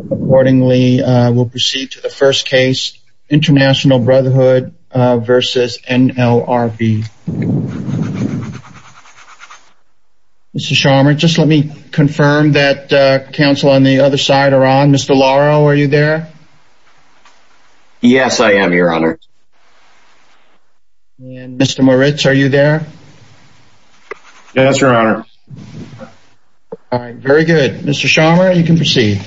Accordingly, we'll proceed to the first case, International Brotherhood versus NLRB. Mr. Scharmer, just let me confirm that counsel on the other side are on. Mr. Lauro, are you there? Yes, I am, your honor. Mr. Moritz, are you there? Yes, your honor. Please proceed.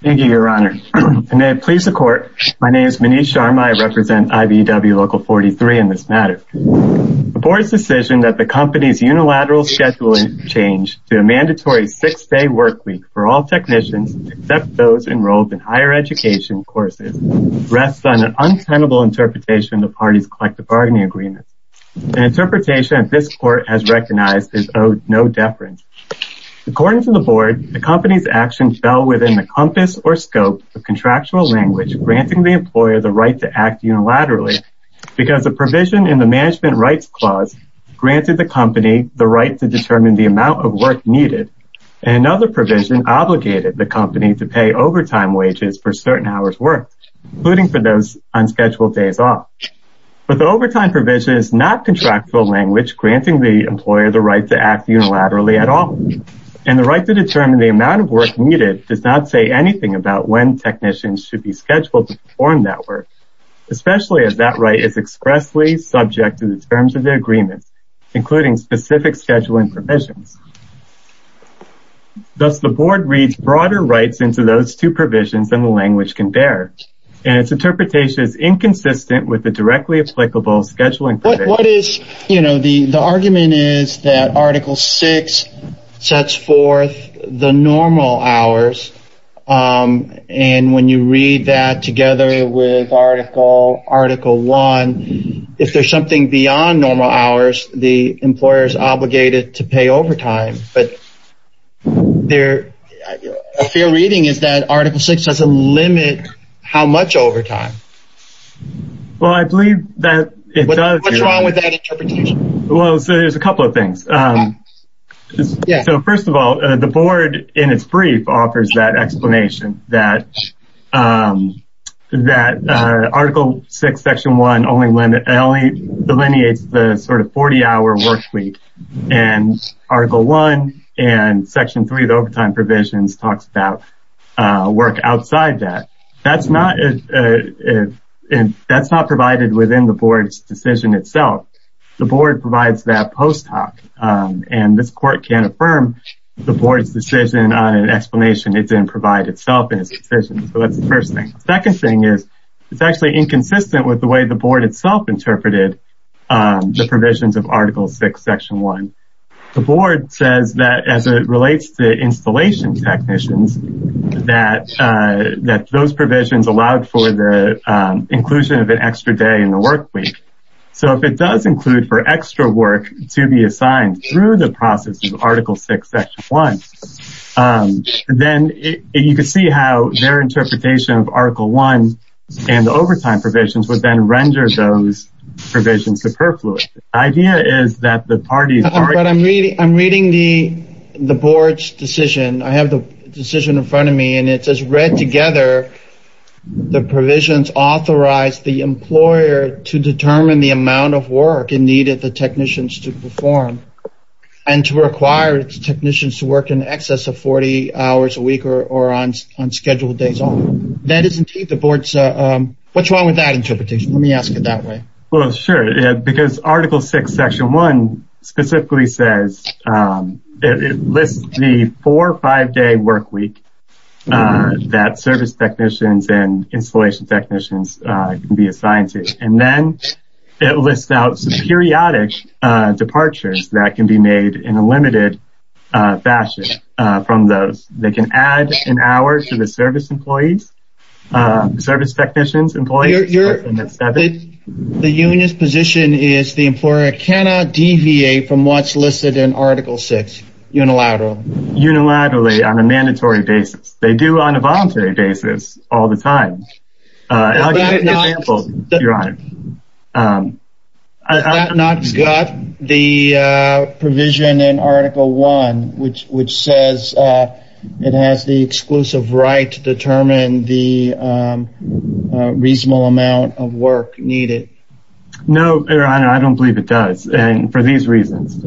Thank you, your honor. And may it please the court, my name is Manish Sharma. I represent IBW Local 43 in this matter. The board's decision that the company's unilateral scheduling change to a mandatory six-day workweek for all technicians, except those enrolled in higher education courses, rests on an untenable interpretation of the party's collective bargaining agreement. An interpretation that this court has recognized is owed no deference. According to the board, the company's action fell within the compass or scope of contractual language granting the employer the right to act unilaterally because the provision in the management rights clause granted the company the right to determine the amount of work needed. And another provision obligated the company to pay overtime wages for certain hours work, including for those unscheduled days off. But the overtime provision is not contractual language granting the employer the right to act unilaterally at all. And the right to determine the amount of work needed does not say anything about when technicians should be scheduled to perform that work, especially as that right is expressly subject to the terms of the agreement, including specific scheduling provisions. Thus, the board reads broader rights into those two provisions than the language can bear. And its interpretation is inconsistent with the directly applicable scheduling. What is, you know, the argument is that Article Six sets forth the normal hours. And when you read that together with Article One, if there's something beyond normal hours, the employer is obligated to pay overtime. But their fair reading is that Article Six doesn't limit how much overtime. Well, I believe that it does. What's wrong with that interpretation? Well, so there's a couple of things. Yeah. So first of all, the board in its brief offers that explanation that that Article Six, Section One only delineates the sort of 40-hour work and Article One and Section Three of overtime provisions talks about work outside that. That's not provided within the board's decision itself. The board provides that post hoc. And this court can't affirm the board's decision on an explanation. It didn't provide itself in its decision. So that's the first thing. Second thing is, it's actually inconsistent with the way the board itself interpreted the provisions of Article Six, Section One. The board says that as it relates to installation technicians, that those provisions allowed for the inclusion of an extra day in the work week. So if it does include for extra work to be assigned through the process of Article Six, Section One, then you can see how their interpretation of Article One and overtime provisions would then render those provisions superfluous. The idea is that the parties... But I'm reading the board's decision. I have the decision in front of me and it says read together, the provisions authorize the employer to determine the amount of work needed the technicians to perform and to require technicians to work in excess of 40 hours a day. That is indeed the board's... What's wrong with that interpretation? Let me ask it that way. Well, sure. Because Article Six, Section One specifically says, it lists the four or five day work week that service technicians and installation technicians can be assigned to. And then it lists out some periodic departures that can be made in a limited fashion from those. They can add an hour to the service employees, service technicians, employees. The union's position is the employer cannot deviate from what's listed in Article Six unilaterally. Unilaterally on a mandatory basis. They do on a voluntary basis all the time. I'll give you an example, Your Honor. That not got the provision in Article One, which says it has the exclusive right to determine the reasonable amount of work needed. No, Your Honor, I don't believe it does. And for these reasons.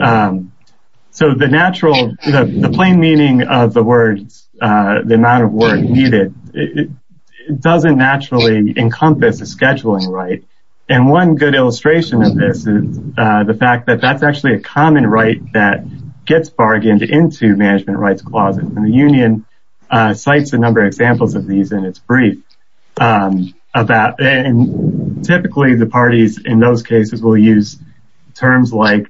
So the natural, the plain meaning of the words, the amount of work needed, it doesn't naturally encompass a scheduling right. And one good illustration of this is the fact that that's actually a common right that gets bargained into management rights clauses. And the union cites a number of examples of these in its brief. And typically the parties in those cases will use terms like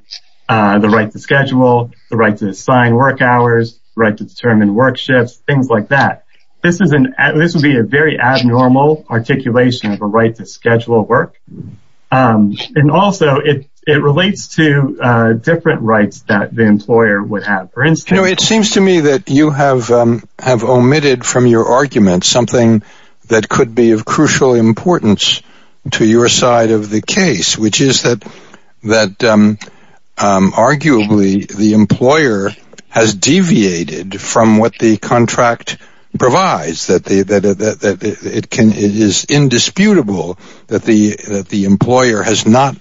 the right to schedule, the right to assign work hours, right to determine work shifts, things like that. This would be a very abnormal articulation of a right to schedule work. And also it relates to different rights that the employer would have. For instance, it seems to me that you have omitted from your argument something that could be of crucial importance to your side of the case, which is that arguably the employer has deviated from what the contract provides, that it is indisputable that the employer has not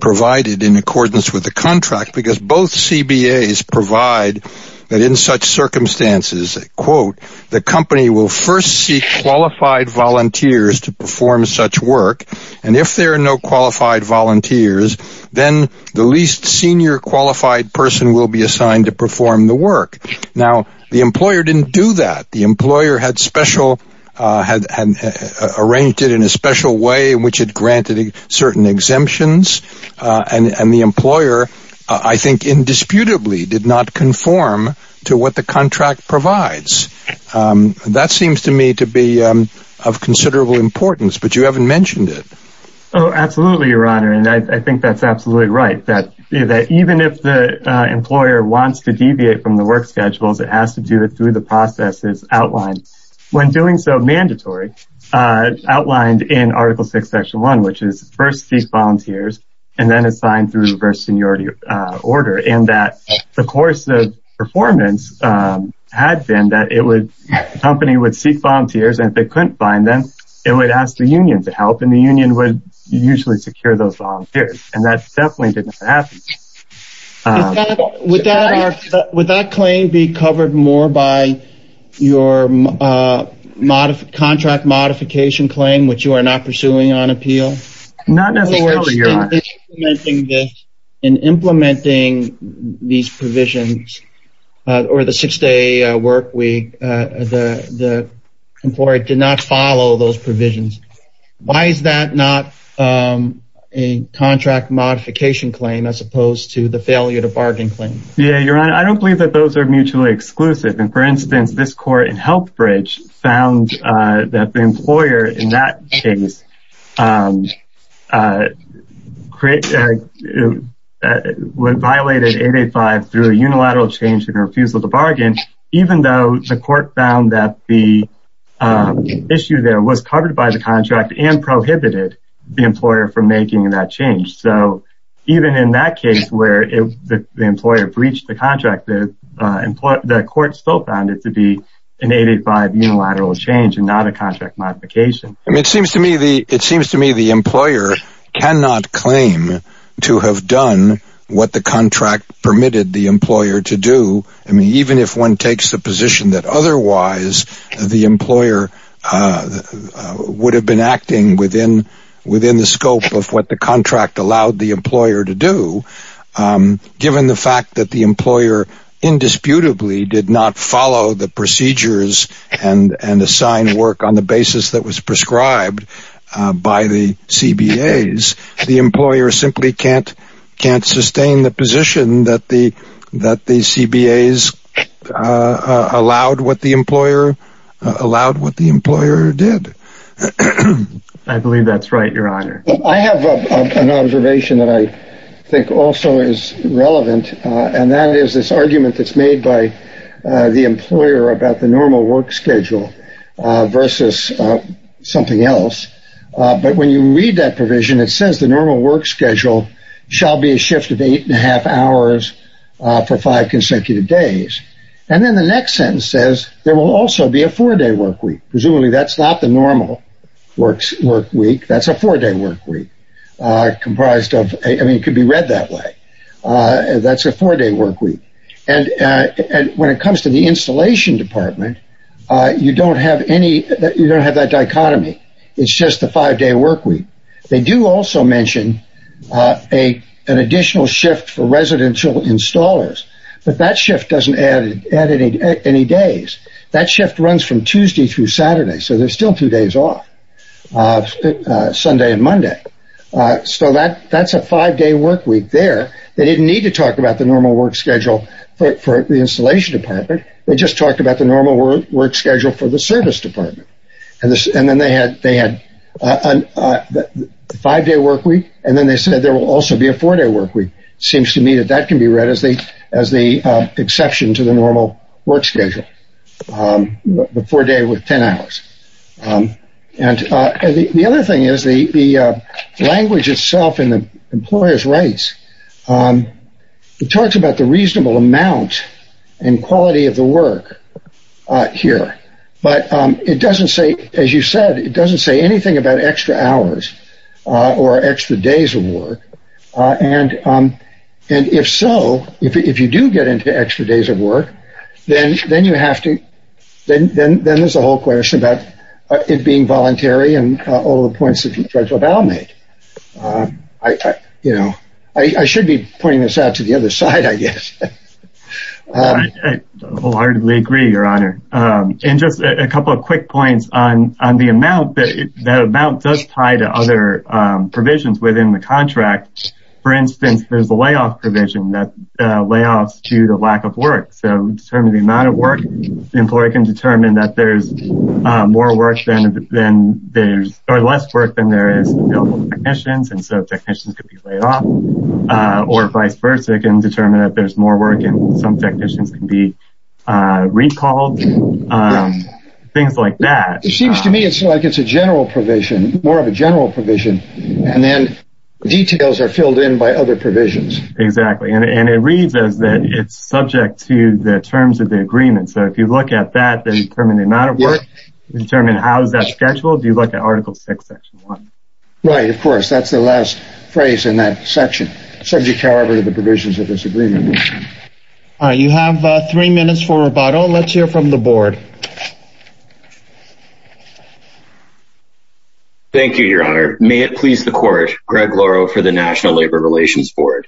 provided in accordance with the contract, because both CBAs provide that in such circumstances, quote, the company will first seek qualified volunteers to perform such work. And if there are no qualified volunteers, then the least senior qualified person will be assigned to perform the work. Now, the employer didn't do that. The employer had arranged it in a special way in which it granted certain exemptions. And the employer, I think, indisputably did not conform to what the contract provides. That seems to me to be of considerable importance, but you haven't mentioned it. Oh, absolutely, Your Honor. And I think that's absolutely right, that even if the employer wants to deviate from the work schedules, it has to do it through the processes outlined, when doing so mandatory, outlined in Article 6, Section 1, which is first seek volunteers and then assign through reverse seniority order. And that the course of performance had been that the company would seek volunteers, and if they couldn't find them, it would ask the union to help, and the union would usually secure those volunteers. And that definitely didn't happen. Would that claim be covered more by your contract modification claim, which you are not pursuing on appeal? Not necessarily, Your Honor. In implementing these provisions, or the six-day work week, the employer did not follow those provisions. Why is that not a contract modification claim as opposed to the failure to bargain claim? Yeah, Your Honor, I don't believe that those are mutually exclusive. And for instance, this court in Healthbridge found that the employer in that case violated 885 through a unilateral change in refusal to bargain, even though the court found that the issue there was covered by the contract and prohibited the employer from making that change. So even in that case where the employer breached the contract, the court still found it an 885 unilateral change and not a contract modification. It seems to me the employer cannot claim to have done what the contract permitted the employer to do, even if one takes the position that otherwise the employer would have been acting within the scope of what the contract allowed the employer to do, given the fact that the employer indisputably did not follow the procedures and assign work on the basis that was prescribed by the CBAs. The employer simply can't sustain the position that the CBAs allowed what the employer did. I believe that's right, Your Honor. I have an observation that I think also is relevant, and that is this argument that's made by the employer about the normal work schedule versus something else. But when you read that provision, it says the normal work schedule shall be a shift of eight and a half hours for five consecutive days. And then the next sentence says there will also be a four-day work week. Presumably that's not the normal work week. That's a four-day work week, comprised of – I mean, it could be read that way. That's a four-day work week. And when it comes to the installation department, you don't have that dichotomy. It's just the five-day work week. They do also mention an additional shift for residential installers, but that shift doesn't add any days. That shift runs from Tuesday through Saturday, so there's still two days off, Sunday and Monday. So that's a five-day work week there. They didn't need to talk about the normal work schedule for the installation department. They just talked about the normal work schedule for the service department. And then they had the five-day work week, and then they said there will also be a four-day work week. It seems to me that that can be read as the exception to the normal work schedule, the four-day with 10 hours. And the other thing is the language itself in the employer's rights, it talks about the reasonable amount and quality of the work here, but it doesn't say – as you said, it doesn't say anything about extra hours or extra days of work. And if so, if you do get into extra days of work, then you have to – then there's a whole question about it being voluntary and all the points that Judge LaValle made. I should be pointing this out to the other side, I guess. I wholeheartedly agree, Your Honor. And just a couple of quick points on the amount. That amount does tie to other provisions within the contract. For instance, there's a layoff provision that layoffs due to lack of work. So determining the amount of work, the employer can determine that there's more work than – or less work than there is available to technicians, and so technicians could be laid off, or vice versa. It can determine that there's more work and some technicians can be recalled, things like that. It seems to me it's like it's a general provision, more of a general provision, and then details are filled in by other provisions. Exactly. And it reads as that it's subject to the terms of the agreement. So if you look at that, then you determine the amount of work, you determine how is that scheduled, you look at Article VI, Section 1. Right, of course. That's the last phrase in that section. Subject, however, to the provisions of this agreement. All right. You have three minutes for rebuttal. Let's hear from the Board. Thank you, Your Honor. May it please the Court, Greg Lauro for the National Labor Relations Board.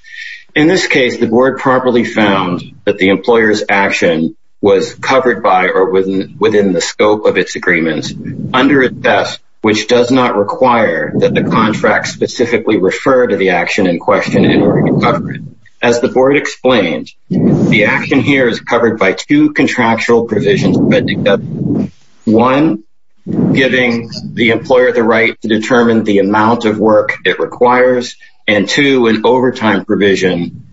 In this case, the Board properly found that the employer's action was covered by or within the scope of its agreements under its desk, which does not require that the contract specifically refer to the action in question in order to cover it. As the Board explained, the action here is covered by two contractual provisions. One, giving the employer the right to determine the amount of work it requires, and two, an overtime provision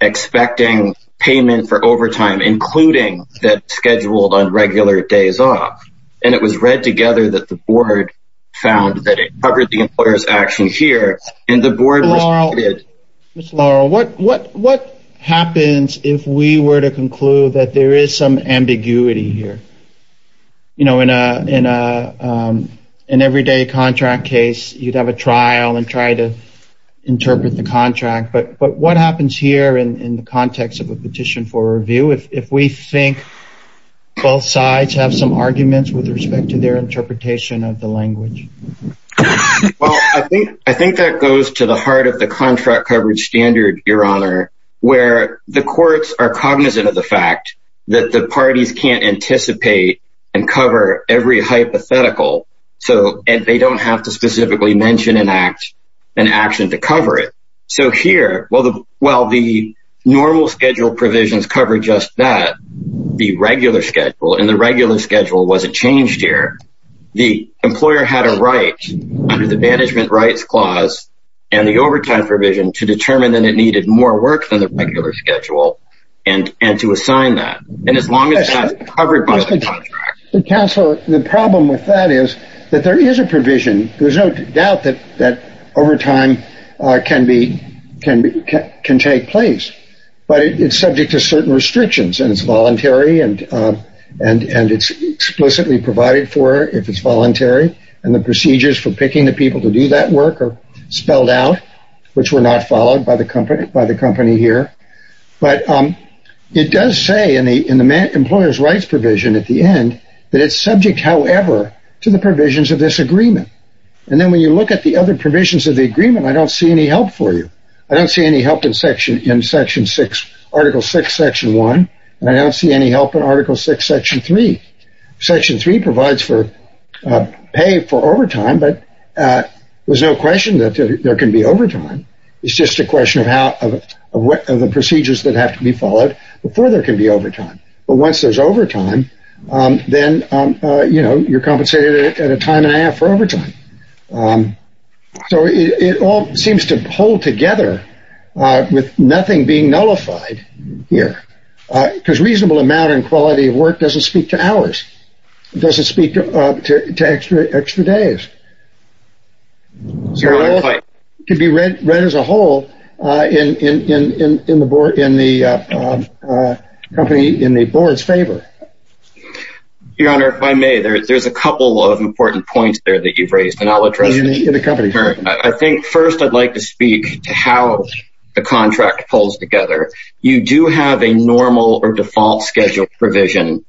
expecting payment for overtime, including that's scheduled on regular days off. And it was read together that the Board found that it covered the employer's action here, and the Board responded. Mr. Lauro, what happens if we were to conclude that there is some ambiguity here? You know, in an everyday contract case, you'd have a trial and try to interpret the contract, but what happens here in the context of a petition for review if we think both sides have some arguments with respect to their interpretation of the language? Well, I think that goes to the heart of the contract coverage standard, Your Honor, where the courts are cognizant of the fact that the parties can't anticipate and cover every hypothetical, and they don't have to specifically mention an action to cover it. So here, while the normal schedule provisions cover just that, the regular schedule wasn't changed here. The employer had a right under the Management Rights Clause and the overtime provision to determine that it needed more work than the regular schedule, and to assign that. And as long as that's covered by the contract... Counselor, the problem with that is that there is a provision. There's no doubt that overtime can take place, but it's subject to certain restrictions, and it's voluntary, and it's explicitly provided for if it's voluntary, and the procedures for picking the people to do that work spelled out, which were not followed by the company here. But it does say in the Employer's Rights Provision at the end that it's subject, however, to the provisions of this agreement. And then when you look at the other provisions of the agreement, I don't see any help for you. I don't see any help in Section 6, Article 6, Section 1, and I don't see any help in Article 6, Section 3. Section 3 provides for pay for overtime, but there's no question that there can be overtime. It's just a question of the procedures that have to be followed before there can be overtime. But once there's overtime, then, you know, you're compensated at a time and a half for overtime. So it all seems to hold together with nothing being nullified here. Because reasonable amount and quality of work doesn't speak to hours, doesn't speak to extra days. So it could be read as a whole in the company, in the board's favor. Your Honor, if I may, there's a couple of important points there that you've raised, and I'll address them. I think first I'd like to speak to how the contract pulls together. You do have a normal or default schedule provision,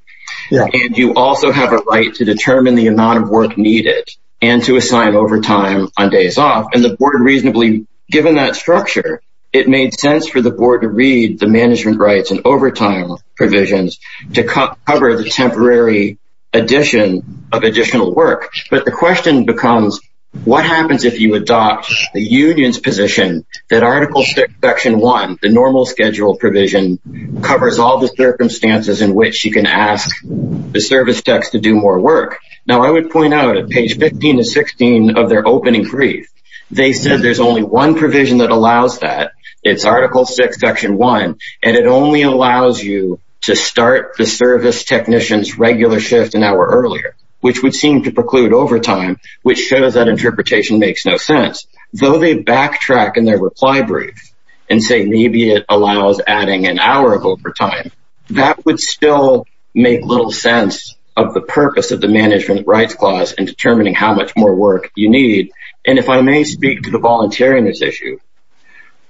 and you also have a right to determine the amount of work needed and to assign overtime on days off. And the board reasonably, given that structure, it made sense for the board to read the management rights and overtime provisions to cover the temporary addition of additional work. But the question becomes, what happens if you adopt the union's position that Article 6, Section 1, the normal schedule provision, covers all the circumstances in which you can ask the service techs to do more work? Now I would point out at page 15 to 16 of their opening brief, they said there's only one provision that allows that. It's Article 6, Section 1, and it only allows you to start the service technician's shift an hour earlier, which would seem to preclude overtime, which shows that interpretation makes no sense. Though they backtrack in their reply brief and say maybe it allows adding an hour of overtime, that would still make little sense of the purpose of the management rights clause in determining how much more work you need. And if I may speak to the volunteer in this issue,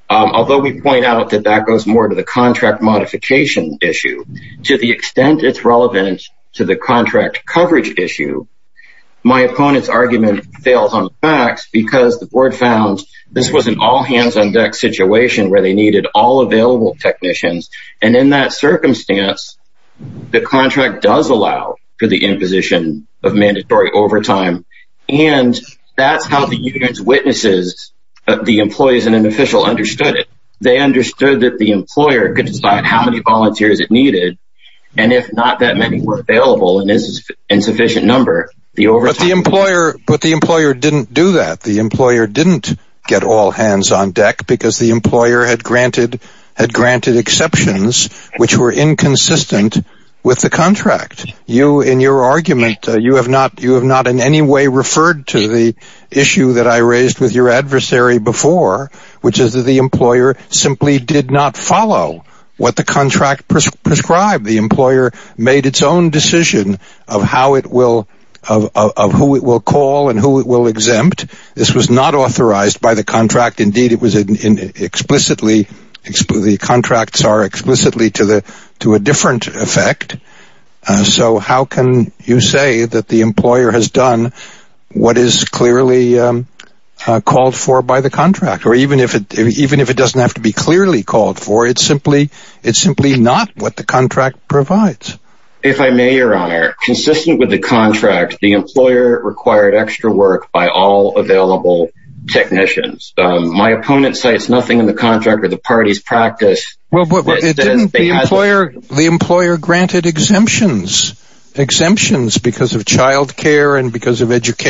although we point out that that goes more to the contract modification issue, to the extent it's relevant to the contract coverage issue, my opponent's argument fails on the facts because the board found this was an all-hands-on-deck situation where they needed all available technicians. And in that circumstance, the contract does allow for the imposition of mandatory overtime. And that's how the union's witnesses, the employees and an official, understood it. They understood that the employer could decide how many volunteers it needed, and if not that many were available, and this is an insufficient number, the overtime... But the employer didn't do that. The employer didn't get all hands on deck because the employer had granted exceptions which were inconsistent with the contract. You, in your argument, you have not in any way referred to the issue that I raised with your adversary before, which is that the employer simply did not follow what the contract prescribed. The employer made its own decision of how it will, of who it will call and who it will exempt. This was not authorized by the contract. Indeed, it was explicitly, the contracts are explicitly to a different effect. So how can you say that the employer has done what is clearly called for by the contract? Or even if it doesn't have to be clearly called for, it's simply not what the contract provides. If I may, your honor, consistent with the contract, the employer required extra work by all available technicians. My opponent cites nothing in the contract or the party's practice... Well, the employer granted exemptions. Exemptions because of child care and because of available. It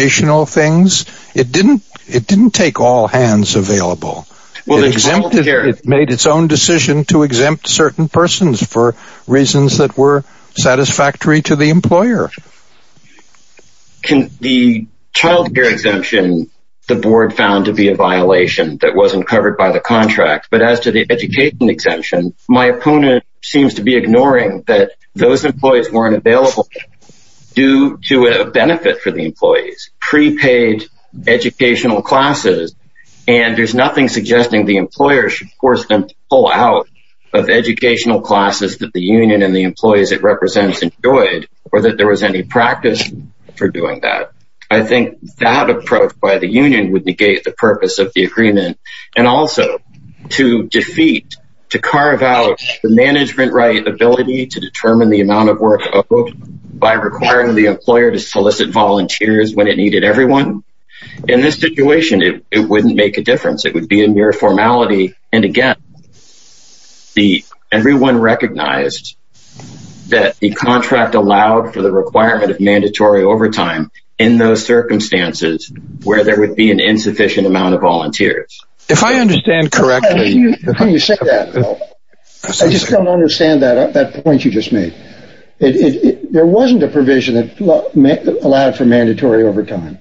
made its own decision to exempt certain persons for reasons that were satisfactory to the employer. Can the child care exemption, the board found to be a violation that wasn't covered by the contract, but as to the education exemption, my opponent seems to be ignoring that those employees weren't available due to a benefit for the employees. Prepaid educational classes and there's nothing suggesting the employer should force them to pull out of educational classes that the union and the employees it represents enjoyed or that there was any practice for doing that. I think that approach by the union would negate the purpose of the agreement and also to defeat, to carve out the management right ability to determine the amount of work by requiring the employer to solicit volunteers when it needed everyone. In this situation, it wouldn't make a difference. It would be a mere formality. And again, everyone recognized that the contract allowed for the requirement of mandatory overtime in those circumstances where there would be an insufficient amount of volunteers. If I understand correctly... I just don't understand that point you just made. There wasn't a provision that allowed for mandatory overtime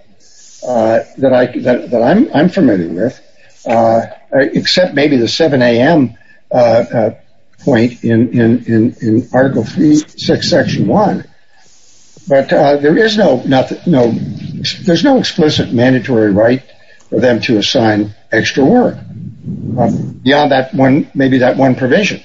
that I'm familiar with, except maybe the 7 a.m. point in Article 3, Section 1. But there is no explicit mandatory right for them to assign extra work beyond maybe that one provision.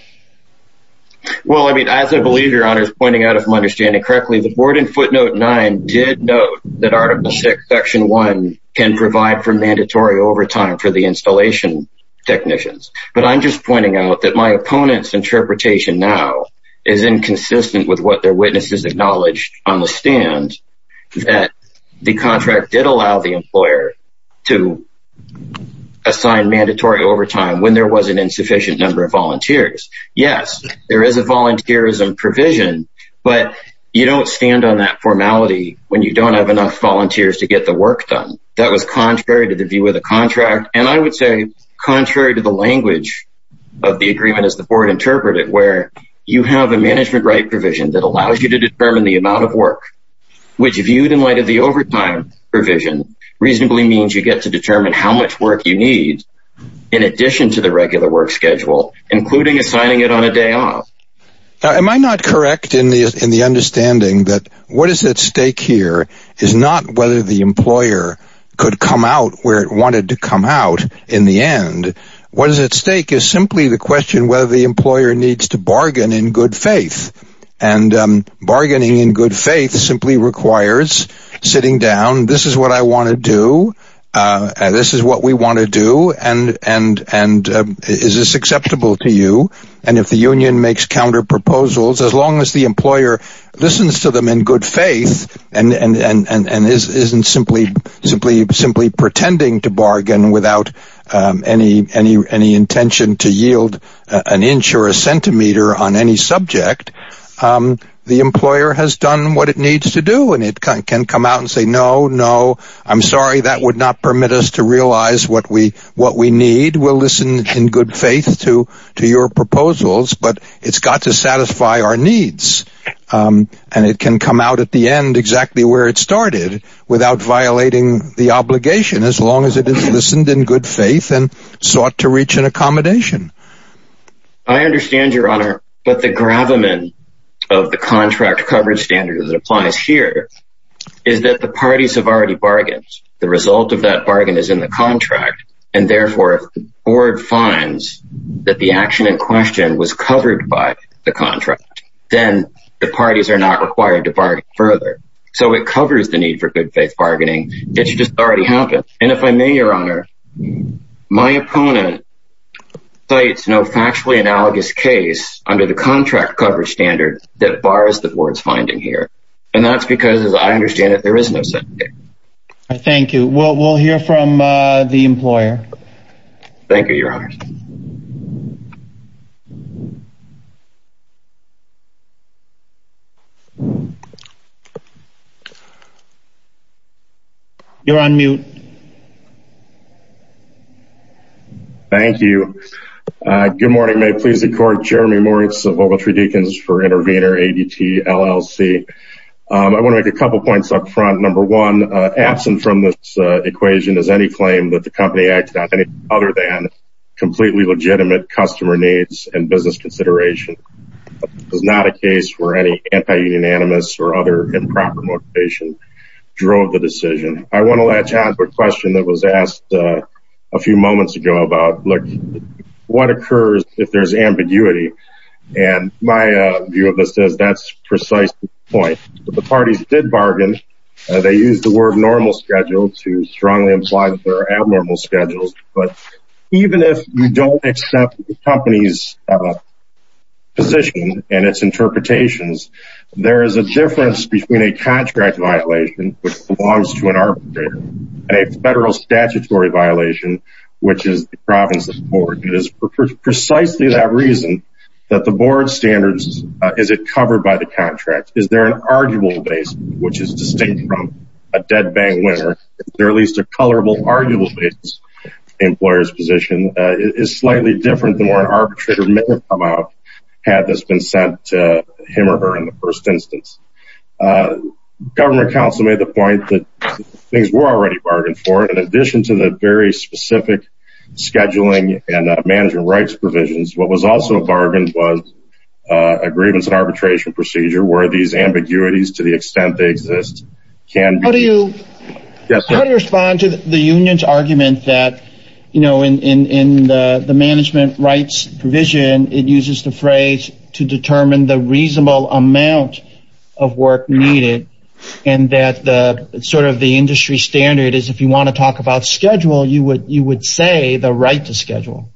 Well, I mean, as I believe your honor is pointing out, if I'm understanding correctly, the board in footnote 9 did note that Article 6, Section 1 can provide for mandatory overtime for the installation technicians. But I'm just pointing out that my opponent's interpretation now is inconsistent with what their witnesses acknowledged on the stand that the contract did allow the employer to assign mandatory overtime when there was an insufficient number of volunteers. Yes, there is a volunteerism provision, but you don't stand on that formality when you don't have enough volunteers to get the work done. That was contrary to the view of the contract. And I would say contrary to the language of the agreement as the board interpreted, where you have a management right provision that allows you to determine the amount of work, which viewed in light of the overtime provision reasonably means you get to determine how much you need in addition to the regular work schedule, including assigning it on a day off. Am I not correct in the understanding that what is at stake here is not whether the employer could come out where it wanted to come out in the end? What is at stake is simply the question whether the employer needs to bargain in good faith. And bargaining in good faith simply requires sitting down. This is what I want to do. This is what we want to do. And is this acceptable to you? And if the union makes counter proposals, as long as the employer listens to them in good faith and isn't simply pretending to bargain without any intention to yield an inch or a centimeter on any subject, the employer has done what it needs to do. And it can come out and say, no, no, I'm sorry, that would not permit us to realize what we need. We'll listen in good faith to your proposals. But it's got to satisfy our needs. And it can come out at the end exactly where it started without violating the obligation, as long as it is listened in good faith and to reach an accommodation. I understand your honor. But the gravamen of the contract coverage standards that applies here is that the parties have already bargained. The result of that bargain is in the contract. And therefore, if the board finds that the action in question was covered by the contract, then the parties are not required to bargain further. So it covers the need for sites no factually analogous case under the contract coverage standard that bars the board's finding here. And that's because as I understand it, there is no set. Thank you. Well, we'll hear from the employer. Thank you, your honor. You're on mute. Thank you. Good morning, may it please the court, Jeremy Moritz of Ogletree Deacons for Intervenor ADT LLC. I want to make a couple points up front. Number one, absent from this equation is any claim that the company acted on anything other than completely legitimate customer needs and business consideration. It's not a case where any anti unanimous or other improper motivation drove the decision. I want to let you have a question that was asked a few moments ago about look, what occurs if there's ambiguity. And my view of this is that's precise point, the parties did bargain. They use the word normal schedule to strongly imply that they're abnormal schedules. But even if you don't accept the company's position and its interpretations, there is a difference between a contract violation, which belongs to an arbitrator, and a federal statutory violation, which is the province of the board. It is precisely that reason that the board standards is it covered by the contract? Is there an arguable base, which is distinct from a dead bang winner? There are at least a colorable arguable basis. Employers position is slightly different than what an arbitrator may have come out. Had this been sent to him or her in the first instance. Government Council made the point that things were already bargained for in addition to the very specific scheduling and management rights provisions. What was also a bargain was a grievance arbitration procedure where these ambiguities to the extent they exist, can you respond to the union's argument that, you know, in the management rights provision, it uses the phrase to determine the reasonable amount of work needed. And that the sort of the industry standard is if you want to talk about schedule, you would you would say the right to schedule.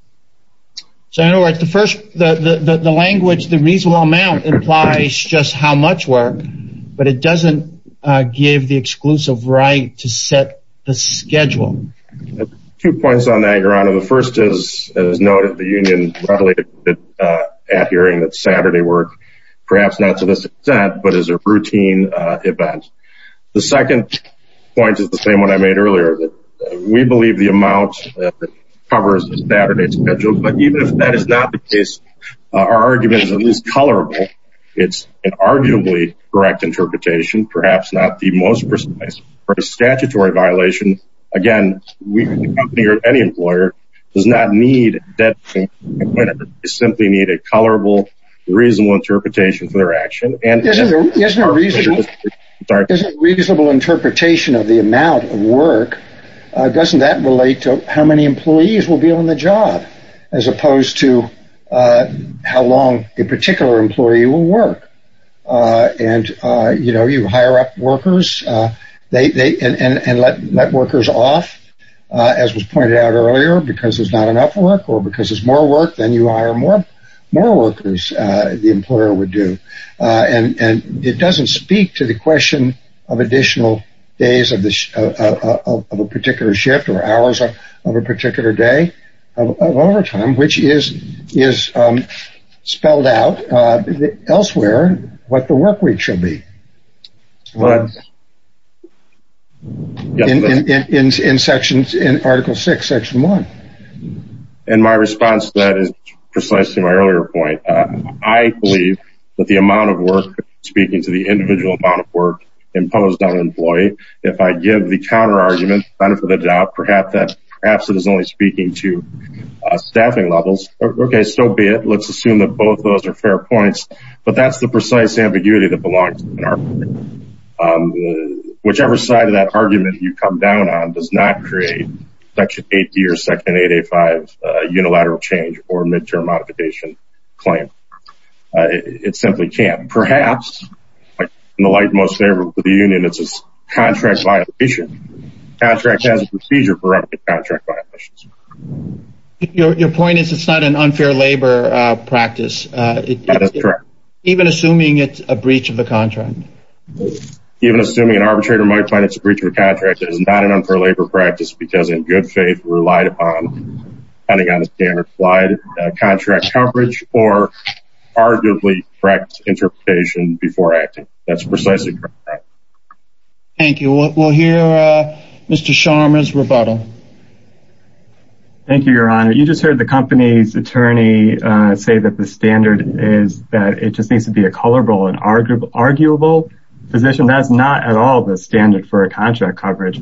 So in other words, the first the language, the reasonable amount implies just how much work, but it doesn't give the exclusive right to set the schedule. Two points on that, Your Honor. The first is, as noted, the union readily adhering that Saturday work, perhaps not to this extent, but as a routine event. The second point is the same one I made earlier that we believe the amount covers a Saturday schedule. But even if that is not the case, our argument is colorable. It's arguably correct interpretation, perhaps not the most precise for a statutory violation. Again, we hear any employer does not need that simply need a colorable, reasonable interpretation for their action and reasonable interpretation of the amount of work. Doesn't that relate to how many employees will be on the job, as opposed to how long a particular employee will work. And, you know, you hire up workers, they and let workers off, as was pointed out earlier, because there's not enough work or because there's more work than you are more, more workers, the employer would do. And it doesn't speak to the question of additional days of a particular shift or hours of a particular day of overtime, which is, is spelled out elsewhere, what the work week should be. In sections in Article six, section one. And my response to that is precisely my earlier point. I believe that the amount of work speaking to the individual amount of work imposed on an employee, if I give the counter argument on it for the job, perhaps that perhaps it is only speaking to staffing levels. Okay, so be it, let's assume that both of those are fair points. But that's the precise ambiguity that belongs. Whichever side of that argument you come down on does not create Section 80 or Section 885 unilateral change or midterm modification claim. It simply can't perhaps, in the light most favorable to the union, it's a contract violation. Contract has a procedure for contract violations. Your point is it's not an unfair labor practice. Even assuming it's a breach of the contract, even assuming an arbitrator might find it's a breach of contract is not an unfair labor practice, because in good faith relied upon on a standard applied contract coverage or arguably correct interpretation before acting. That's precisely correct. Thank you. We'll hear Mr. Sharma's rebuttal. Thank you, Your Honor. You just heard the company's attorney say that the standard is that it just needs to be a colorable and arguable position. That's not at all the standard for contract coverage.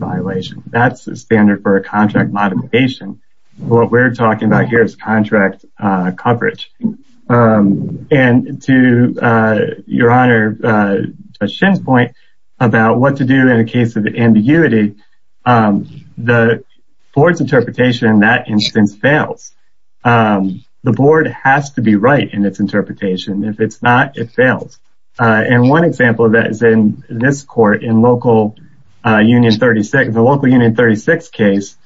And to Your Honor Shen's point about what to do in a case of ambiguity, the board's interpretation in that instance fails. The board has to be right in its interpretation. If it's not, it fails. And one example of that is in this court in local union 36, the local union 36 case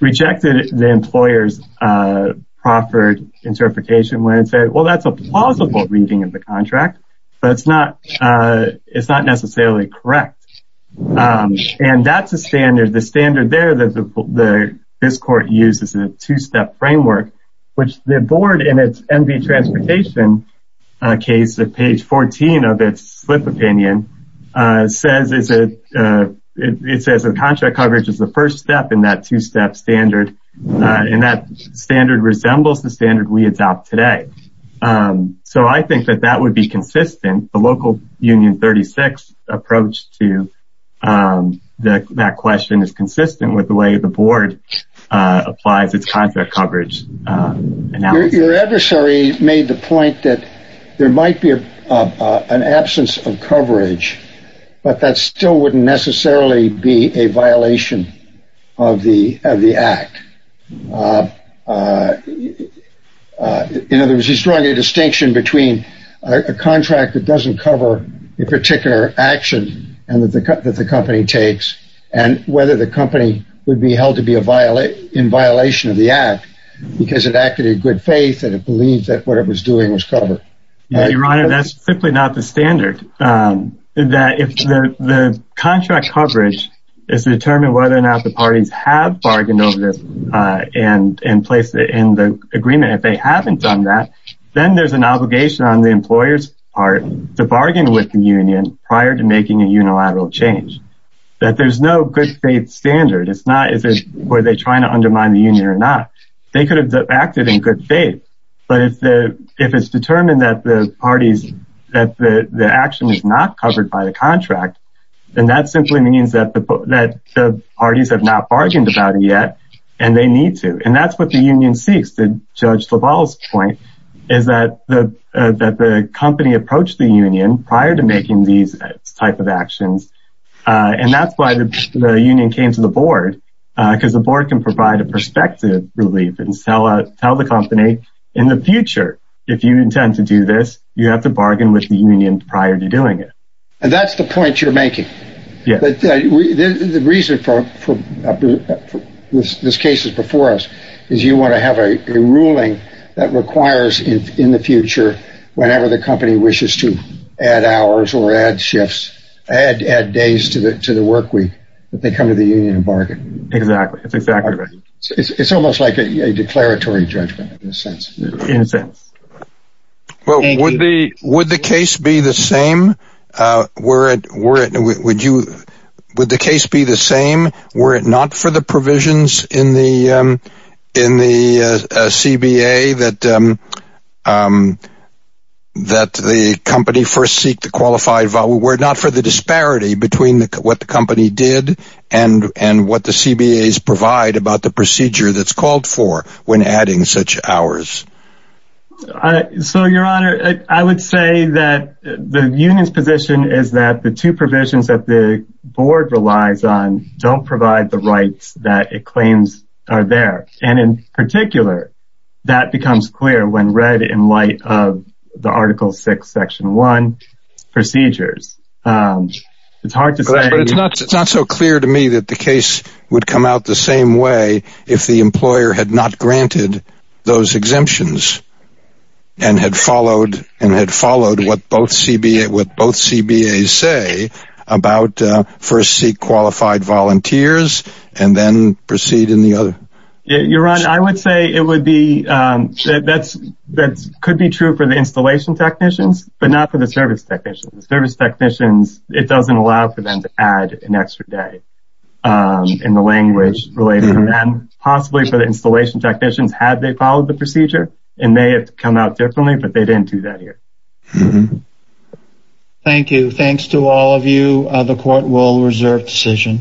rejected the employer's proffered interpretation when it said, well, that's a plausible reading of the contract, but it's not necessarily correct. And that's a standard, the standard there that this court uses a two-step framework, which the board in its MV Transportation case at page 14 of its slip opinion, it says that contract coverage is the first step in that two-step standard. And that standard resembles the standard we adopt today. So I think that that would be consistent. The local union 36 approach to that question is consistent with the way the board applies its contract coverage. Your adversary made the point that there might be an absence of coverage, but that still wouldn't necessarily be a violation of the act. In other words, he's drawing a distinction between a contract that doesn't cover a particular action and that the company takes and whether the company would be held to be in violation of the act because it acted in good faith and it believed that what it was doing was covered. Your Honor, that's simply not the standard that if the contract coverage is determined whether or not the parties have bargained over this and placed it in the agreement, if they haven't done that, then there's an obligation on the employer's part. The bargain with the union prior to making a unilateral change that there's no good faith standard. It's not where they're trying to undermine the union or not. They could have acted in good faith, but if it's determined that the action is not covered by the contract, then that simply means that the parties have not bargained about it yet and they need to. That's what the union seeks. Judge LaValle's point is that the company approached the union prior to making these type of actions and that's why the union came to the board because the board can provide a perspective relief and tell the company in the future if you intend to do this, you have to bargain with the union prior to doing it. That's the point you're making. But the reason for this case is before us is you want to have a ruling that requires in the future whenever the company wishes to add hours or add shifts, add days to the work week, that they come to the union and bargain. It's almost like a declaratory judgment in a sense. In a sense. Well, would the case be the same? Were it not for the provisions in the CBA that the company first seek the qualified, were it not for the disparity between what the company did and what the CBAs provide about the procedure that's called for when adding such hours? I, so your honor, I would say that the union's position is that the two provisions that the board relies on don't provide the rights that it claims are there. And in particular, that becomes clear when read in light of the article six, section one procedures. It's hard to say, but it's not, it's not so clear to me that the case would come out the same way if the employer had not granted those exemptions and had followed and had followed what both CBA, what both CBAs say about first seek qualified volunteers and then proceed in the other. Your honor, I would say it would be, that's, that could be true for the installation technicians, but not for the service technicians. Service technicians, it doesn't allow for them to add an extra day in the language related to them, possibly for the installation technicians, had they followed the procedure and may have come out differently, but they didn't do that here. Thank you. Thanks to all of you. The court will reserve decision.